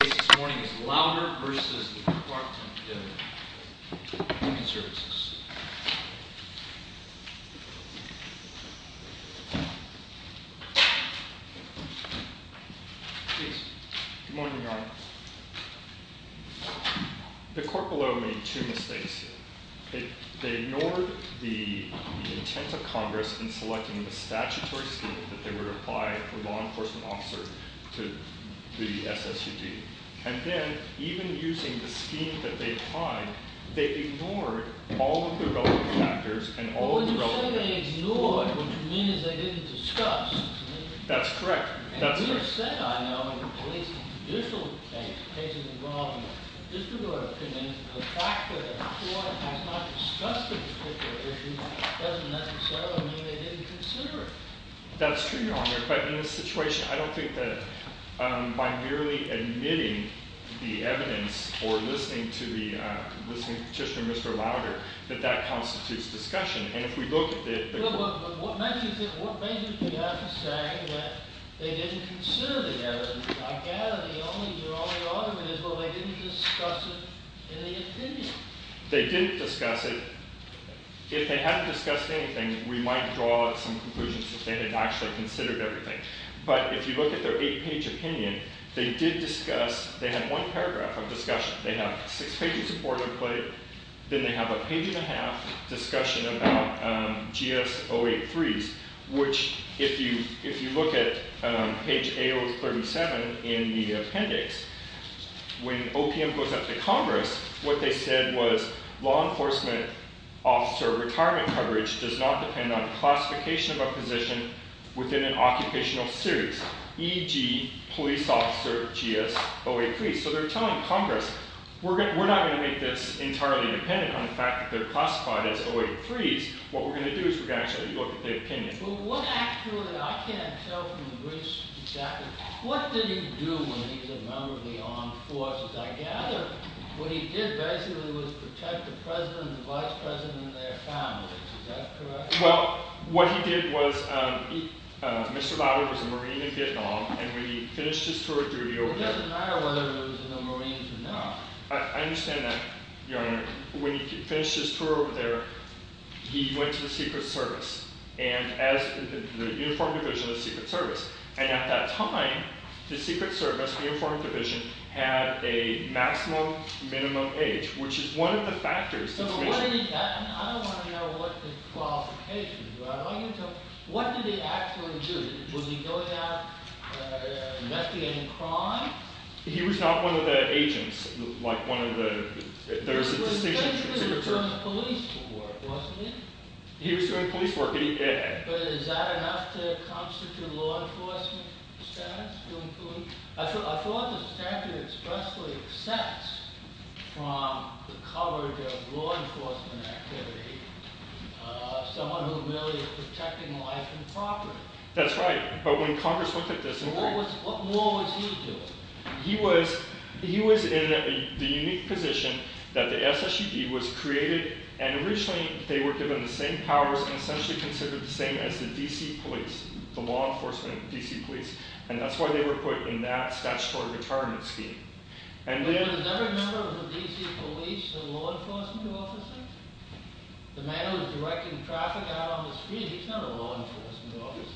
The case this morning is Louder v. Department of Human Services. Good morning, Your Honor. The court below made two mistakes. They ignored the intent of Congress in selecting the statutory scheme that they would apply for a law enforcement officer to the SSUD. And then, even using the scheme that they'd find, they ignored all of the relevant factors and all of the relevant... When you say they ignored, what you mean is they didn't discuss. That's correct. And you said, I know, in the police judicial case, cases involving district court opinions, the fact that the court has not discussed a particular issue doesn't necessarily mean they didn't consider it. That's true, Your Honor. But in this situation, I don't think that by merely admitting the evidence or listening to the petitioner, Mr. Louder, that that constitutes discussion. And if we look at the... But what makes you think... What makes you think they have to say that they didn't consider the evidence? I gather the only argument is, well, they didn't discuss it in the opinion. They didn't discuss it. If they hadn't discussed anything, we might draw some conclusions that they had actually considered everything. But if you look at their eight-page opinion, they did discuss. They had one paragraph of discussion. They have a six-page report. Then they have a page-and-a-half discussion about GS-083s, which, if you look at page A037 in the appendix, when OPM goes up to Congress, what they said was, law enforcement officer retirement coverage does not depend on classification of a position within an occupational series, e.g., police officer GS-083s. So they're telling Congress, we're not going to make this entirely dependent on the fact that they're classified as 083s. What we're going to do is we're going to actually look at the opinion. But what actually... I can't tell from the briefs exactly. What did he do when he was a member of the armed forces? I gather what he did basically was protect the president and the vice president and their families. Is that correct? Well, what he did was Mr. Lauderdale was a Marine in Vietnam, and when he finished his tour of duty over there... It doesn't matter whether he was in the Marines or not. I understand that, Your Honor. When he finished his tour over there, he went to the Secret Service, the uniformed division of the Secret Service. And at that time, the Secret Service, the uniformed division, had a maximum minimum age, which is one of the factors... I don't want to know what the qualifications were. What did he actually do? Was he going out investigating crime? He was not one of the agents, like one of the... He was basically doing police work, wasn't he? He was doing police work. But is that enough to constitute law enforcement status? I thought the statute expressly exempts from the coverage of law enforcement activity someone who really is protecting life and property. That's right, but when Congress looked at this... What more was he doing? He was in the unique position that the SSUD was created, and originally they were given the same powers and essentially considered the same as the D.C. police, the law enforcement of the D.C. police, and that's why they were put in that statutory retirement scheme. But was every member of the D.C. police a law enforcement officer? The man who was directing traffic out on the street, he's not a law enforcement officer.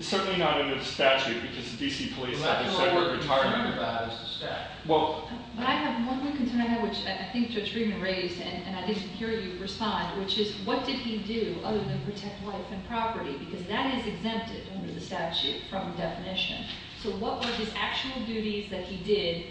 Certainly not under the statute, because the D.C. police have a separate retirement... That's what we're concerned about, is the statute. But I have one more concern I have, which I think Judge Freeman raised, and I didn't hear you respond, which is what did he do other than protect life and property? Because that is exempted under the statute from definition. So what were his actual duties that he did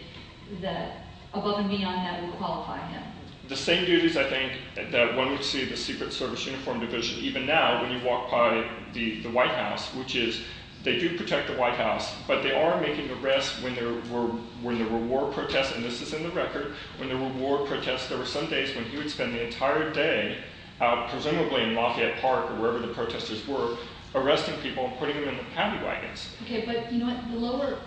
that above and beyond that would qualify him? The same duties, I think, that one would see in the Secret Service Uniformed Division, even now when you walk by the White House, which is they do protect the White House, but they are making arrests when there were war protests. And this is in the record. When there were war protests, there were some days when he would spend the entire day, presumably in Lafayette Park or wherever the protesters were, arresting people and putting them in the paddy wagons. Okay, but you know what? The lower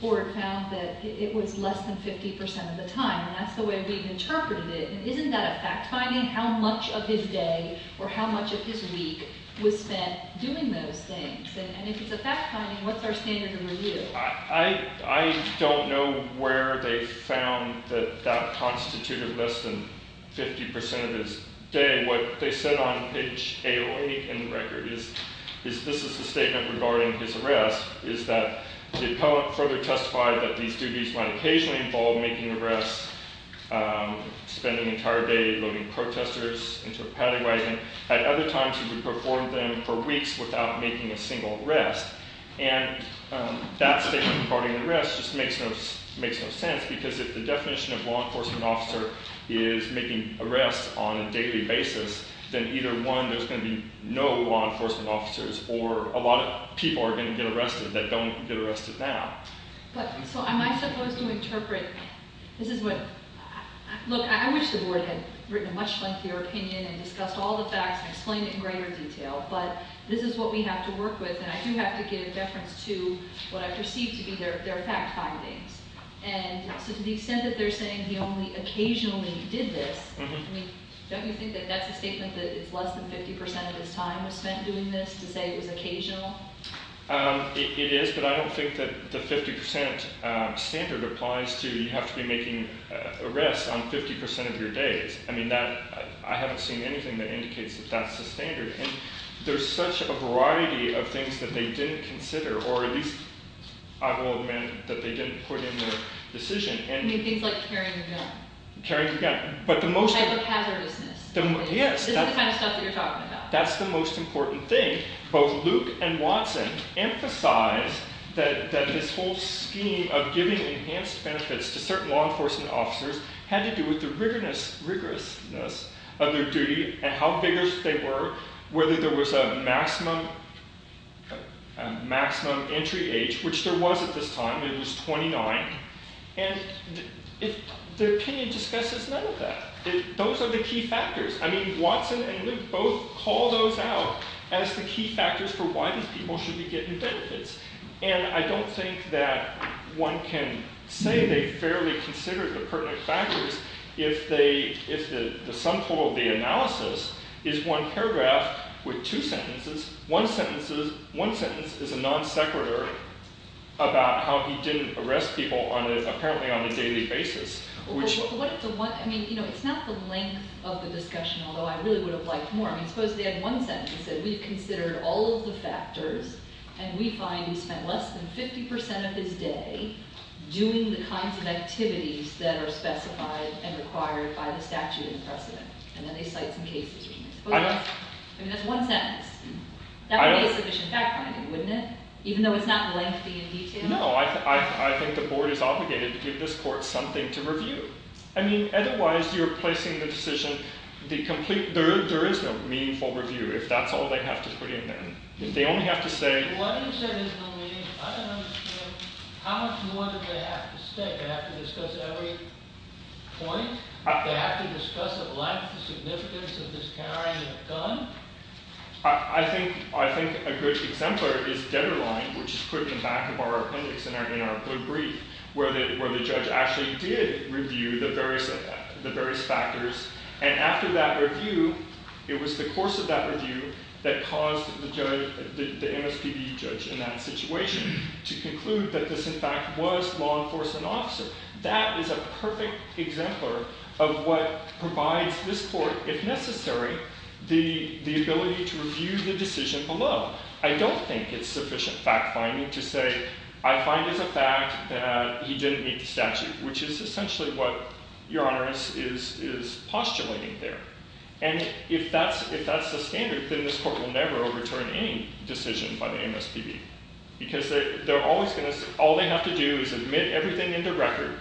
board found that it was less than 50 percent of the time, and that's the way we've interpreted it. Isn't that a fact-finding, how much of his day or how much of his week was spent doing those things? And if it's a fact-finding, what's our standard of review? I don't know where they found that that constituted less than 50 percent of his day. What they said on page 808 in the record is this is a statement regarding his arrest, is that the appellant further testified that these duties might occasionally involve making arrests, spending an entire day loading protesters into a paddy wagon. At other times, he would perform them for weeks without making a single arrest. And that statement regarding arrests just makes no sense, because if the definition of a law enforcement officer is making arrests on a daily basis, then either one, there's going to be no law enforcement officers, or a lot of people are going to get arrested that don't get arrested now. So am I supposed to interpret, this is what, look, I wish the board had written a much lengthier opinion and discussed all the facts and explained it in greater detail, but this is what we have to work with, and I do have to give deference to what I perceive to be their fact findings. And so to the extent that they're saying he only occasionally did this, don't you think that that's a statement that it's less than 50 percent of his time was spent doing this, to say it was occasional? It is, but I don't think that the 50 percent standard applies to, you have to be making arrests on 50 percent of your days. I mean, I haven't seen anything that indicates that that's the standard. And there's such a variety of things that they didn't consider, or at least, I will admit, that they didn't put in their decision. You mean things like carrying a gun? Carrying a gun. But the most- Hyper-hazardousness. Yes. This is the kind of stuff that you're talking about. That's the most important thing. Both Luke and Watson emphasize that this whole scheme of giving enhanced benefits to certain law enforcement officers had to do with the rigorousness of their duty and how vigorous they were, whether there was a maximum entry age, which there was at this time. It was 29. And their opinion discusses none of that. Those are the key factors. I mean, Watson and Luke both call those out as the key factors for why these people should be getting benefits. And I don't think that one can say they fairly considered the pertinent factors if the sum total of the analysis is one paragraph with two sentences. One sentence is a non-sequitur about how he didn't arrest people apparently on a daily basis. I mean, it's not the length of the discussion, although I really would have liked more. I mean, suppose they had one sentence that said we've considered all of the factors and we find he spent less than 50 percent of his day doing the kinds of activities that are specified and required by the statute and precedent. And then they cite some cases. I mean, that's one sentence. That would be a sufficient fact-finding, wouldn't it? Even though it's not lengthy and detailed? No, I think the board is obligated to give this court something to review. I mean, otherwise you're placing the decision. There is no meaningful review if that's all they have to put in there. If they only have to say— Why do you say there's no meaning? I don't understand. How much more do they have to say? They have to discuss every point? They have to discuss at length the significance of this carrying a gun? I think a good exemplar is Deaderline, which is put in the back of our appendix in our good brief, where the judge actually did review the various factors. And after that review, it was the course of that review that caused the MSPB judge in that situation to conclude that this in fact was law enforcement officer. That is a perfect exemplar of what provides this court, if necessary, the ability to review the decision below. I don't think it's sufficient fact-finding to say, I find as a fact that he didn't meet the statute, which is essentially what Your Honor is postulating there. And if that's the standard, then this court will never overturn any decision by the MSPB, because all they have to do is admit everything into record,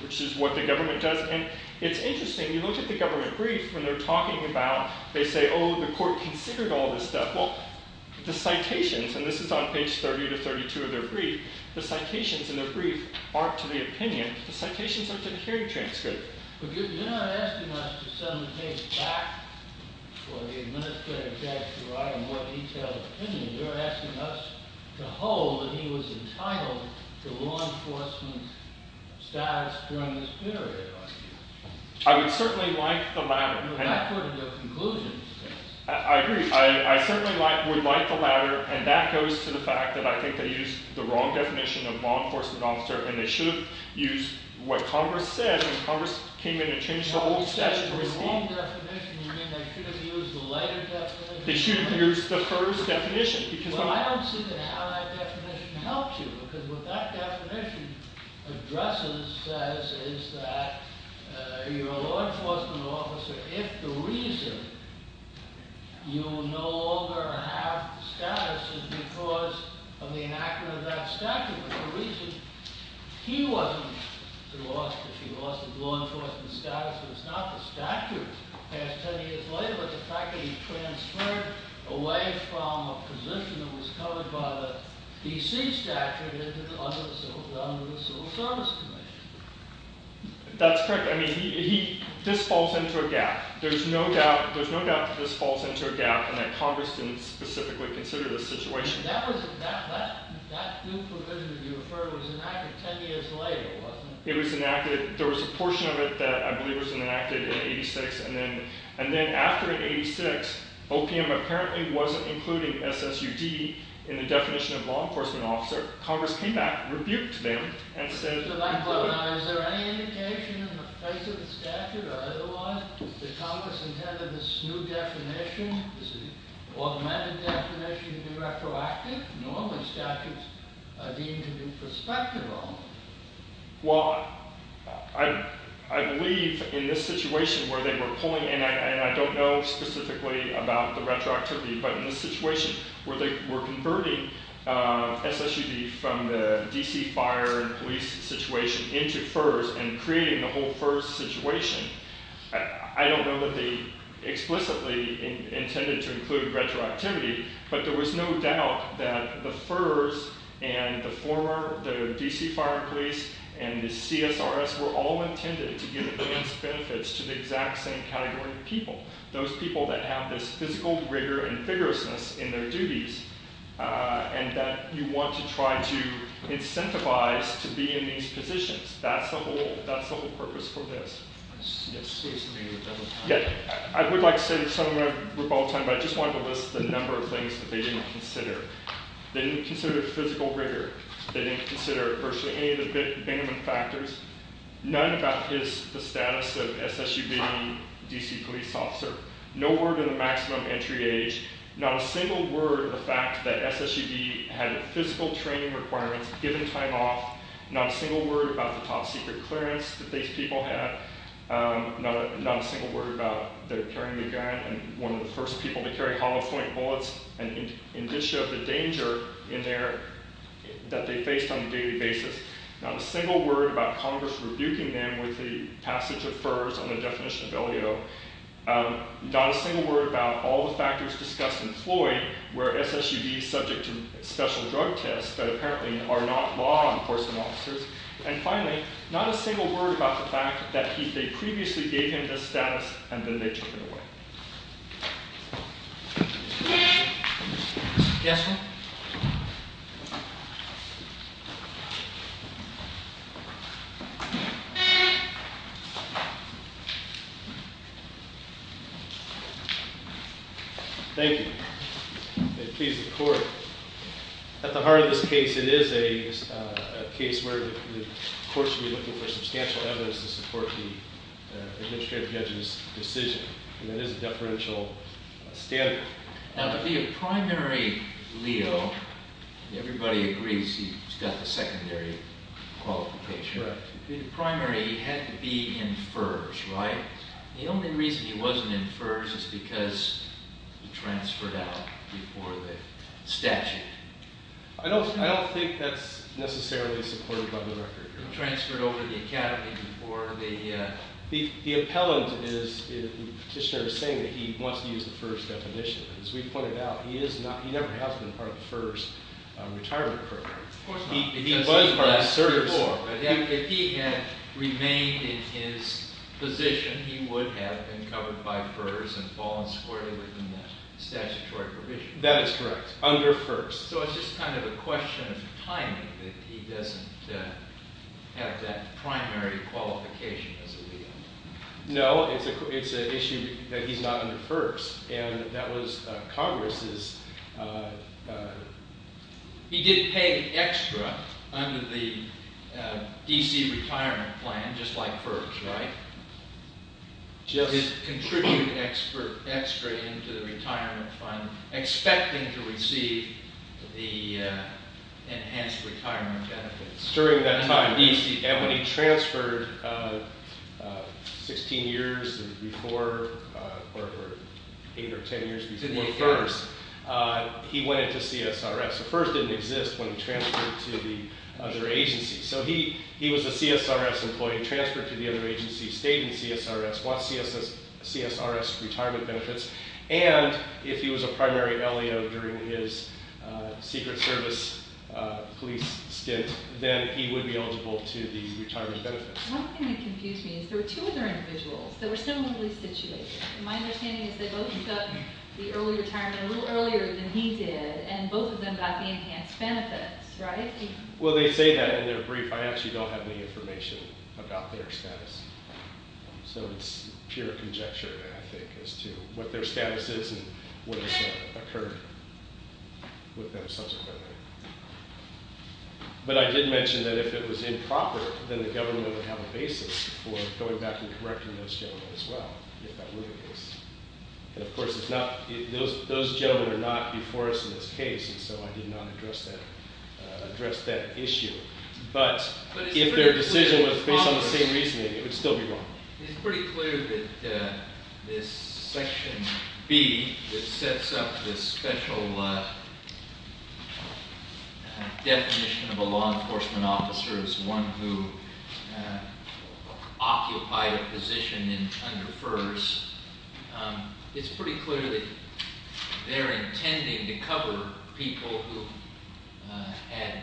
which is what the government does. And it's interesting. You look at the government brief. When they're talking about, they say, oh, the court considered all this stuff. Well, the citations, and this is on page 30 to 32 of their brief, the citations in their brief aren't to the opinion. The citations are to the hearing transcript. But you're not asking us to send the case back for the administrative judge to write a more detailed opinion. You're asking us to hold that he was entitled to law enforcement status during this period, are you? I would certainly like the latter. That's part of your conclusion. I agree. I certainly would like the latter, and that goes to the fact that I think they used the wrong definition of law enforcement officer, and they should have used what Congress said when Congress came in and changed the old statute. When they said the wrong definition, you mean they should have used the later definition? They should have used the first definition. Well, I don't see how that definition helps you, because what that definition addresses is that you're a law enforcement officer if the reason you no longer have status is because of the enactment of that statute. But the reason he wasn't lost, if he lost his law enforcement status, was not the statute passed 10 years later, but the fact that he transferred away from a position that was covered by the D.C. statute under the Civil Service Commission. That's correct. This falls into a gap. There's no doubt that this falls into a gap and that Congress didn't specifically consider this situation. That new provision that you referred to was enacted 10 years later, wasn't it? It was enacted. There was a portion of it that I believe was enacted in 86, and then after 86, OPM apparently wasn't including SSUD in the definition of law enforcement officer. Congress came back, rebuked them, and said include it. Is there any indication in the face of the statute or otherwise that Congress intended this new definition, this automatic definition, to be retroactive? Normally statutes are deemed to be prospective only. Well, I believe in this situation where they were pulling in, and I don't know specifically about the retroactivity, but in this situation where they were converting SSUD from the D.C. Fire and Police situation into FERS and creating the whole FERS situation, I don't know that they explicitly intended to include retroactivity, but there was no doubt that the FERS and the former, the D.C. Fire and Police and the CSRS were all intended to give advanced benefits to the exact same category of people, those people that have this physical rigor and vigorousness in their duties, and that you want to try to incentivize to be in these positions. That's the whole purpose for this. I would like to say something, but I just wanted to list the number of things that they didn't consider. They didn't consider physical rigor. They didn't consider virtually any of the benefit factors, none about the status of SSUD D.C. police officer, no word of the maximum entry age, not a single word of the fact that SSUD had physical training requirements, given time off, not a single word about the top-secret clearance that these people had, not a single word about their carrying a gun and one of the first people to carry hollow-point bullets and indicia of the danger that they faced on a daily basis, not a single word about Congress rebuking them with the passage of FERS on the definition of LEO, not a single word about all the factors discussed in Floyd, where SSUD is subject to special drug tests that apparently are not law enforcement officers, and finally, not a single word about the fact that they previously gave him this status and then they took it away. Yes, sir? Thank you. May it please the court. At the heart of this case, it is a case where the court should be looking for substantial evidence to support the administrative judge's decision, and that is a deferential standard. Now, to be a primary LEO, everybody agrees he's got the secondary status, but the question is, the primary had to be in FERS, right? The only reason he wasn't in FERS is because he transferred out before the statute. I don't think that's necessarily supported by the record. He transferred over to the academy before the... The appellant is... The petitioner is saying that he wants to use the FERS definition. As we pointed out, he never has been part of the FERS retirement program. Of course not. If he had remained in his position, he would have been covered by FERS and fallen squarely within that statutory provision. That is correct, under FERS. So it's just kind of a question of timing, that he doesn't have that primary qualification as a LEO. No, it's an issue that he's not under FERS, and that was Congress's... He did pay extra under the D.C. retirement plan, just like FERS, right? He did contribute extra into the retirement fund, expecting to receive the enhanced retirement benefits. During that time, when he transferred 16 years before, or 8 or 10 years before FERS, he went into CSRS. FERS didn't exist when he transferred to the other agency. So he was a CSRS employee, transferred to the other agency, stayed in CSRS, got CSRS retirement benefits, and if he was a primary LEO during his Secret Service police stint, then he would be eligible to the retirement benefits. One thing that confused me is there were two other individuals that were similarly situated. My understanding is they both took up the early retirement a little earlier than he did, and both of them got the enhanced benefits, right? Well, they say that in their brief. I actually don't have any information about their status. So it's pure conjecture, I think, as to what their status is and what has occurred with them subsequently. But I did mention that if it was improper, then the government would have a basis for going back and correcting those gentlemen as well, if that were the case. And, of course, those gentlemen are not before us in this case, and so I did not address that issue. But if their decision was based on the same reasoning, it would still be wrong. It's pretty clear that this Section B that sets up this special definition of a law enforcement officer as one who occupied a position under FERS, it's pretty clear that they're intending to cover people who had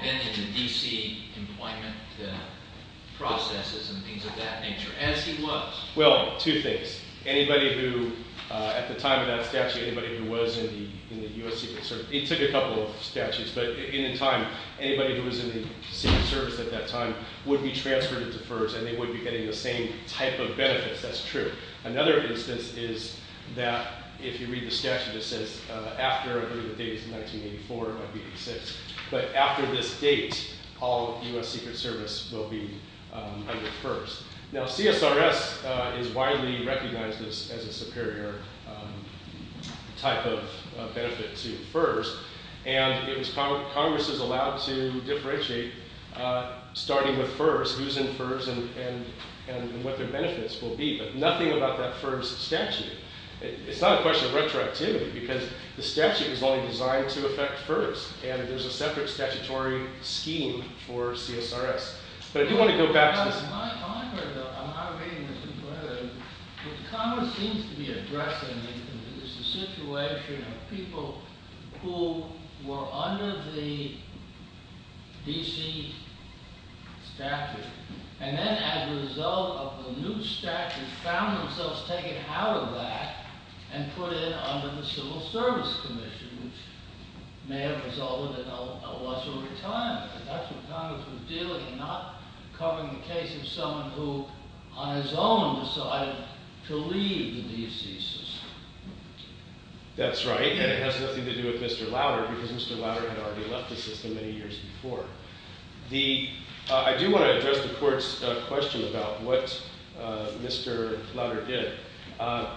been in the D.C. employment processes and things of that nature, as he was. Well, two things. Anybody who, at the time of that statute, anybody who was in the U.S. Secret Service, it took a couple of statutes, but in time, anybody who was in the Secret Service at that time would be transferred into FERS, and they would be getting the same type of benefits. That's true. Another instance is that if you read the statute, it says after, I believe the date is 1984, 1986, but after this date, all U.S. Secret Service will be under FERS. Now, CSRS is widely recognized as a superior type of benefit to FERS, and Congress is allowed to differentiate, starting with FERS, who's in FERS and what their benefits will be, but nothing about that FERS statute. It's not a question of retroactivity, because the statute is only designed to affect FERS, and there's a separate statutory scheme for CSRS. But I do want to go back to this. I'm not agreeing with you, but what Congress seems to be addressing is the situation of people who were under the D.C. statute, and then as a result of the new statute, found themselves taken out of that and put in under the Civil Service Commission, which may have resulted in a loss of retirement. That's what Congress was dealing with, not covering the case of someone who, on his own, decided to leave the D.C. system. That's right, and it has nothing to do with Mr. Lowder, because Mr. Lowder had already left the system many years before. I do want to address the Court's question about what Mr. Lowder did.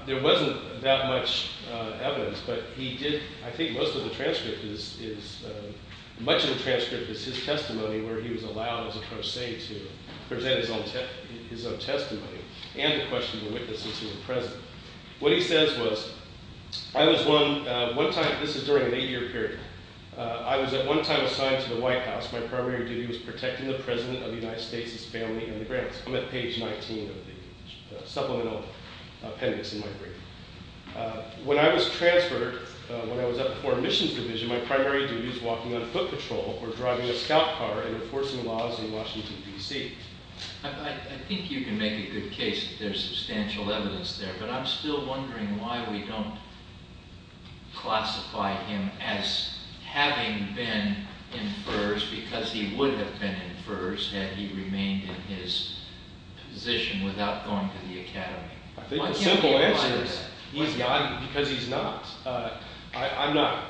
There wasn't that much evidence, but he did, I think, and much of the transcript is his testimony, where he was allowed, as I'm trying to say, to present his own testimony and to question the witnesses who were present. What he says was, this is during an eight-year period, I was at one time assigned to the White House. My primary duty was protecting the president of the United States, his family, and the grants. I'm at page 19 of the supplemental appendix in my brief. When I was transferred, when I was at the Foreign Missions Division, my primary duty was walking on foot patrol or driving a scout car and enforcing laws in Washington, D.C. I think you can make a good case that there's substantial evidence there, but I'm still wondering why we don't classify him as having been in FERS, because he would have been in FERS had he remained in his position without going to the Academy. I think the simple answer is because he's not. I'm not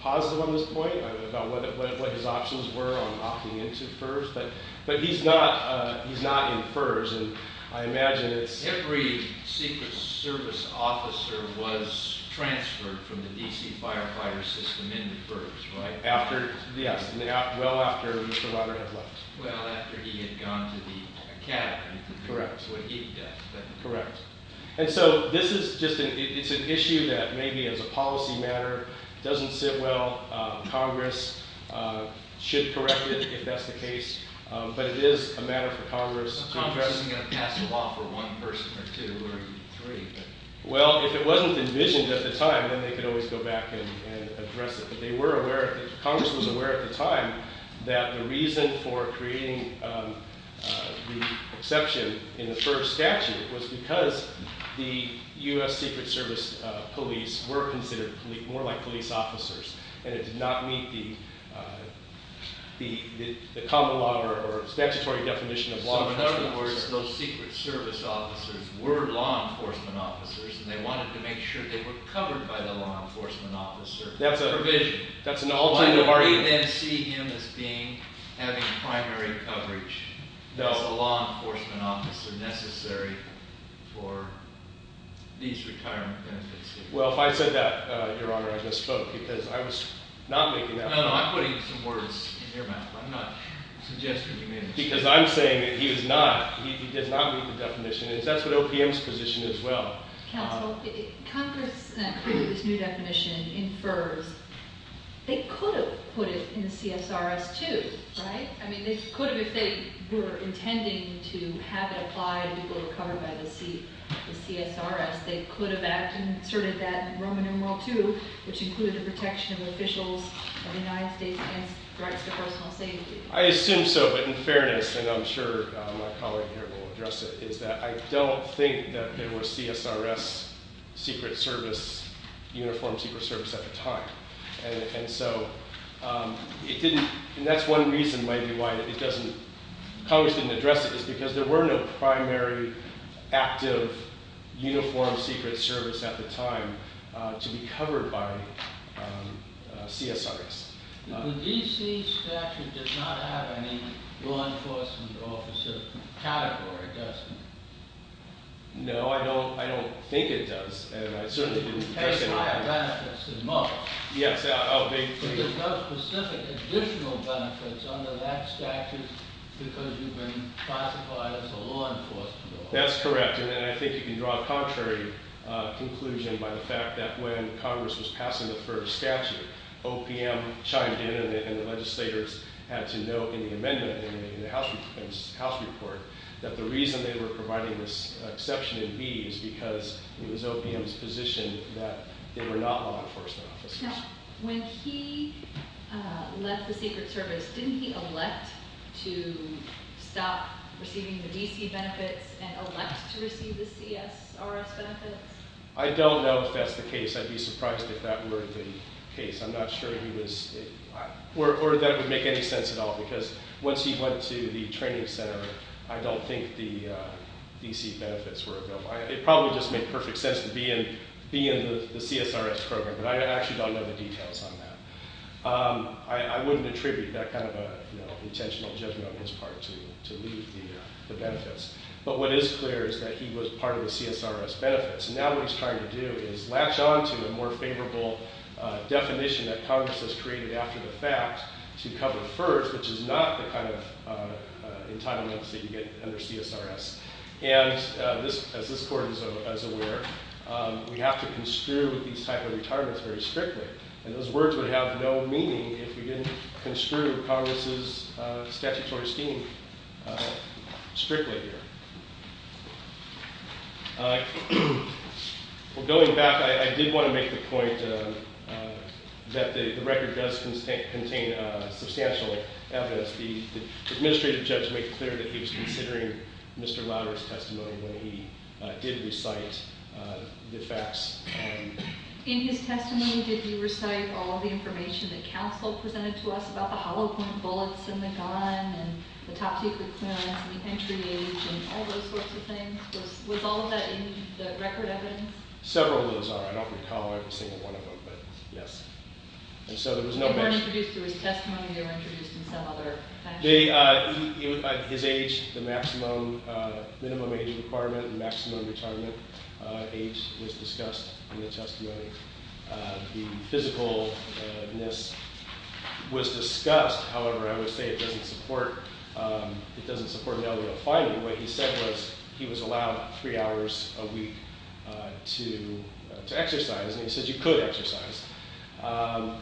positive on this point, about what his options were on opting into FERS, but he's not in FERS, and I imagine it's... Hickory's Secret Service officer was transferred from the D.C. firefighter system into FERS, right? After, yes, well after Mr. Robert Hedlund. Well, after he had gone to the Academy, correct, correct. And so this is just an issue that maybe as a policy matter doesn't sit well, Congress should correct it if that's the case, but it is a matter for Congress to address. Congress isn't going to pass a law for one person or two or three. Well, if it wasn't envisioned at the time, then they could always go back and address it, but they were aware, Congress was aware at the time that the reason for creating the exception in the FERS statute was because the U.S. Secret Service police were considered more like police officers, and it did not meet the common law or statutory definition of law enforcement officers. So in other words, those Secret Service officers were law enforcement officers, and they wanted to make sure they were covered by the law enforcement officer provision. That's an alternative argument. Why don't we then see him as having primary coverage because the law enforcement officers are necessary for these retirement benefits? Well, if I said that, Your Honor, I just spoke because I was not making that point. No, no, I'm putting some words in your mouth. I'm not suggesting you made a mistake. Because I'm saying that he does not meet the definition, and that's what OPM's position is as well. Counsel, Congress created this new definition in FERS. They could have put it in the CSRS, too, right? I mean, they could have if they were intending to have it applied and people were covered by the CSRS. They could have inserted that in Roman numeral 2, which included the protection of officials of the United States against threats to personal safety. I assume so, but in fairness, and I'm sure my colleague here will address it, is that I don't think that there were CSRS secret service, uniform secret service at the time. And so it didn't... And that's one reason maybe why it doesn't... Congress didn't address it, is because there were no primary, active, uniform secret service at the time to be covered by CSRS. The D.C. statute does not have any law enforcement officer category, does it? No, I don't think it does. And I certainly didn't address it... But it has higher benefits than most. Yes. There's no specific additional benefits under that statute because you've been classified as a law enforcement officer. That's correct, and I think you can draw a contrary conclusion by the fact that when Congress was passing the FERS statute, OPM chimed in and the legislators had to know in the amendment, in the House report, that the reason they were providing this exception in B is because it was OPM's position that they were not law enforcement officers. Now, when he left the secret service, didn't he elect to stop receiving the D.C. benefits and elect to receive the CSRS benefits? I don't know if that's the case. I'd be surprised if that were the case. I'm not sure he was... Or that it would make any sense at all because once he went to the training center, I don't think the D.C. benefits were available. It probably just made perfect sense to be in the CSRS program, but I actually don't know the details on that. I wouldn't attribute that kind of intentional judgment on his part to leave the benefits. But what is clear is that he was part of the CSRS benefits. Now what he's trying to do is latch on to a more favorable definition that Congress has created after the fact to cover FERS, which is not the kind of entitlements that you get under CSRS. And as this court is aware, we have to construe these type of retirements very strictly. And those words would have no meaning if we didn't construe Congress's statutory esteem strictly here. Going back, I did want to make the point that the record does contain substantial evidence. The administrative judge made it clear that he was considering Mr. Lowder's testimony when he did recite the facts. In his testimony, did he recite all the information that counsel presented to us about the hollow point bullets in the gun and the top secret clearance and the entry age and all those sorts of things? Was all of that in the record evidence? Several of those are. I don't recall every single one of them, but yes. And so there was no mention. They weren't introduced through his testimony. They were introduced in some other fashion. His age, the maximum minimum age requirement and maximum retirement age was discussed in the testimony. The physicalness was discussed. However, I would say it doesn't support Melio finding. What he said was he was allowed three hours a week to exercise. And he said you could exercise. And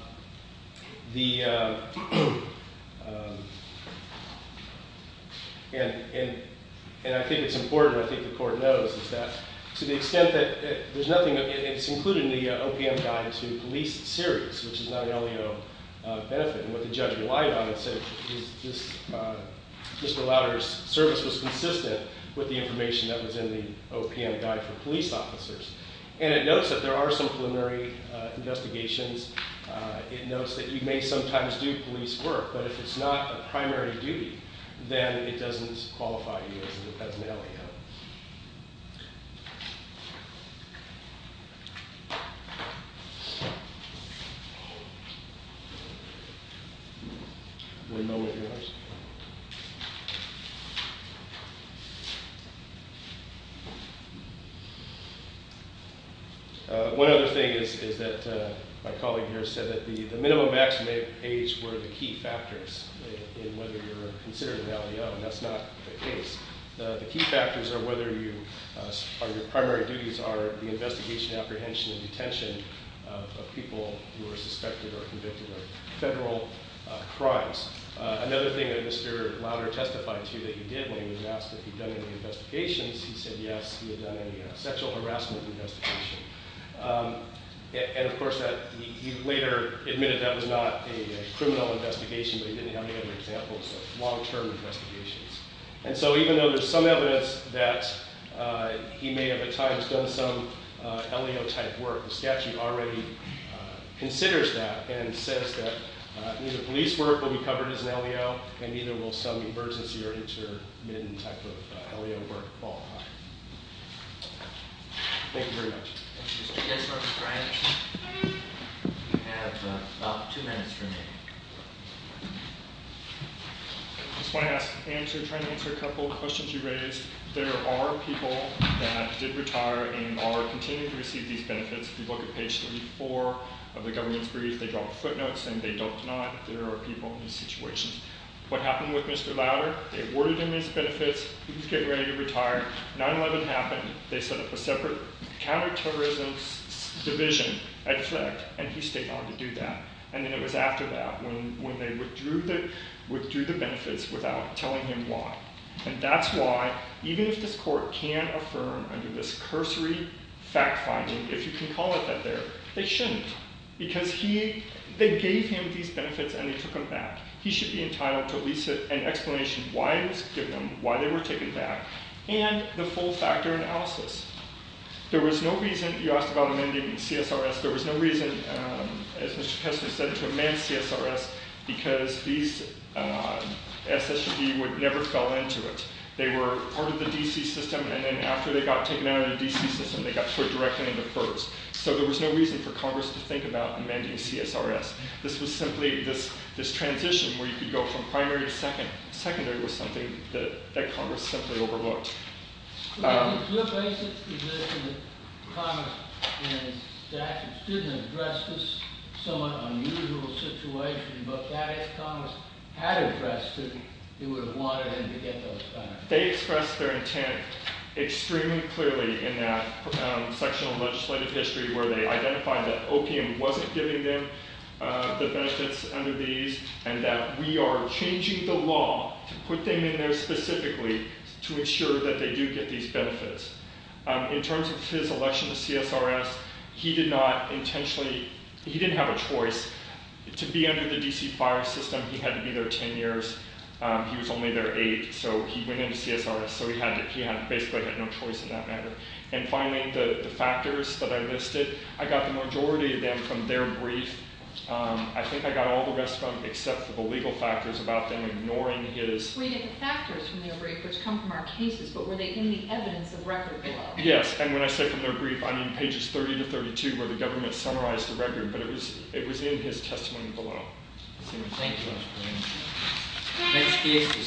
I think it's important, I think the court knows, is that to the extent that there's nothing, it's included in the OPM guide to police series, which is not an OLEO benefit. And what the judge relied on and said was Mr. Lowder's service was consistent with the information that was in the OPM guide for police officers. And it notes that there are some preliminary investigations. It notes that you may sometimes do police work, but if it's not a primary duty, then it doesn't qualify you as an OLEO. Does everyone know what yours is? One other thing is that my colleague here said that the minimum maximum age were the key factors in whether you're considered an OLEO, and that's not the case. The key factors are whether your primary duties are the investigation, apprehension, and detention of people who are suspected or convicted of federal crimes. Another thing that Mr. Lowder testified to that you did, when he was asked if you'd done any investigations, he said yes, he had done any sexual harassment investigations. And of course, he later admitted that was not a criminal investigation, but he didn't have any other examples of long-term investigations. And so even though there's some evidence that he may have at times done some OLEO-type work, the statute already considers that and says that neither police work will be covered as an OLEO, and neither will some emergency or intermittent type of OLEO work fall high. Thank you very much. Thank you, sir. Yes, Mr. Bryant. You have about two minutes remaining. I just want to try and answer a couple questions you raised. There are people that did retire and are continuing to receive these benefits. If you look at page 34 of the government's brief, they drop footnotes saying they don't deny that there are people in these situations. What happened with Mr. Lowder? They awarded him these benefits. He was getting ready to retire. 9-11 happened. They set up a separate counterterrorism division at FLECT, and he stayed on to do that. And then it was after that when they withdrew the benefits without telling him why. And that's why, even if this court can affirm under this cursory fact-finding, if you can call it that there, they shouldn't. Because they gave him these benefits, and they took them back. He should be entitled to at least an explanation why it was given, why they were taken back, and the full factor analysis. There was no reason you asked about amending CSRS. There was no reason, as Mr. Kessler said, to amend CSRS because these SSG would never fell into it. They were part of the DC system, and then after they got taken out of the DC system, they got put directly into FERS. So there was no reason for Congress to think about amending CSRS. This was simply this transition where you could go from primary to secondary was something that Congress simply overlooked. But if the basic position that Congress in its statute shouldn't address this somewhat unusual situation, but that if Congress had addressed it, it would have wanted him to get those back. They expressed their intent extremely clearly in that section of legislative history where they identified that opium wasn't giving them the benefits under these, and that we are changing the law to put them in there specifically to ensure that they do get these benefits. In terms of his election to CSRS, he did not intentionally, he didn't have a choice to be under the DC FERS system. He had to be there 10 years. He was only there eight, so he went into CSRS, so he basically had no choice in that matter. And finally, the factors that I listed, I got the majority of them from their brief. I think I got all the rest of them except for the legal factors about them ignoring his. We get the factors from their brief, which come from our cases, but were they in the evidence of record below? Yes, and when I say from their brief, I mean pages 30 to 32 where the government summarized the record, but it was in his testimony below. Thank you.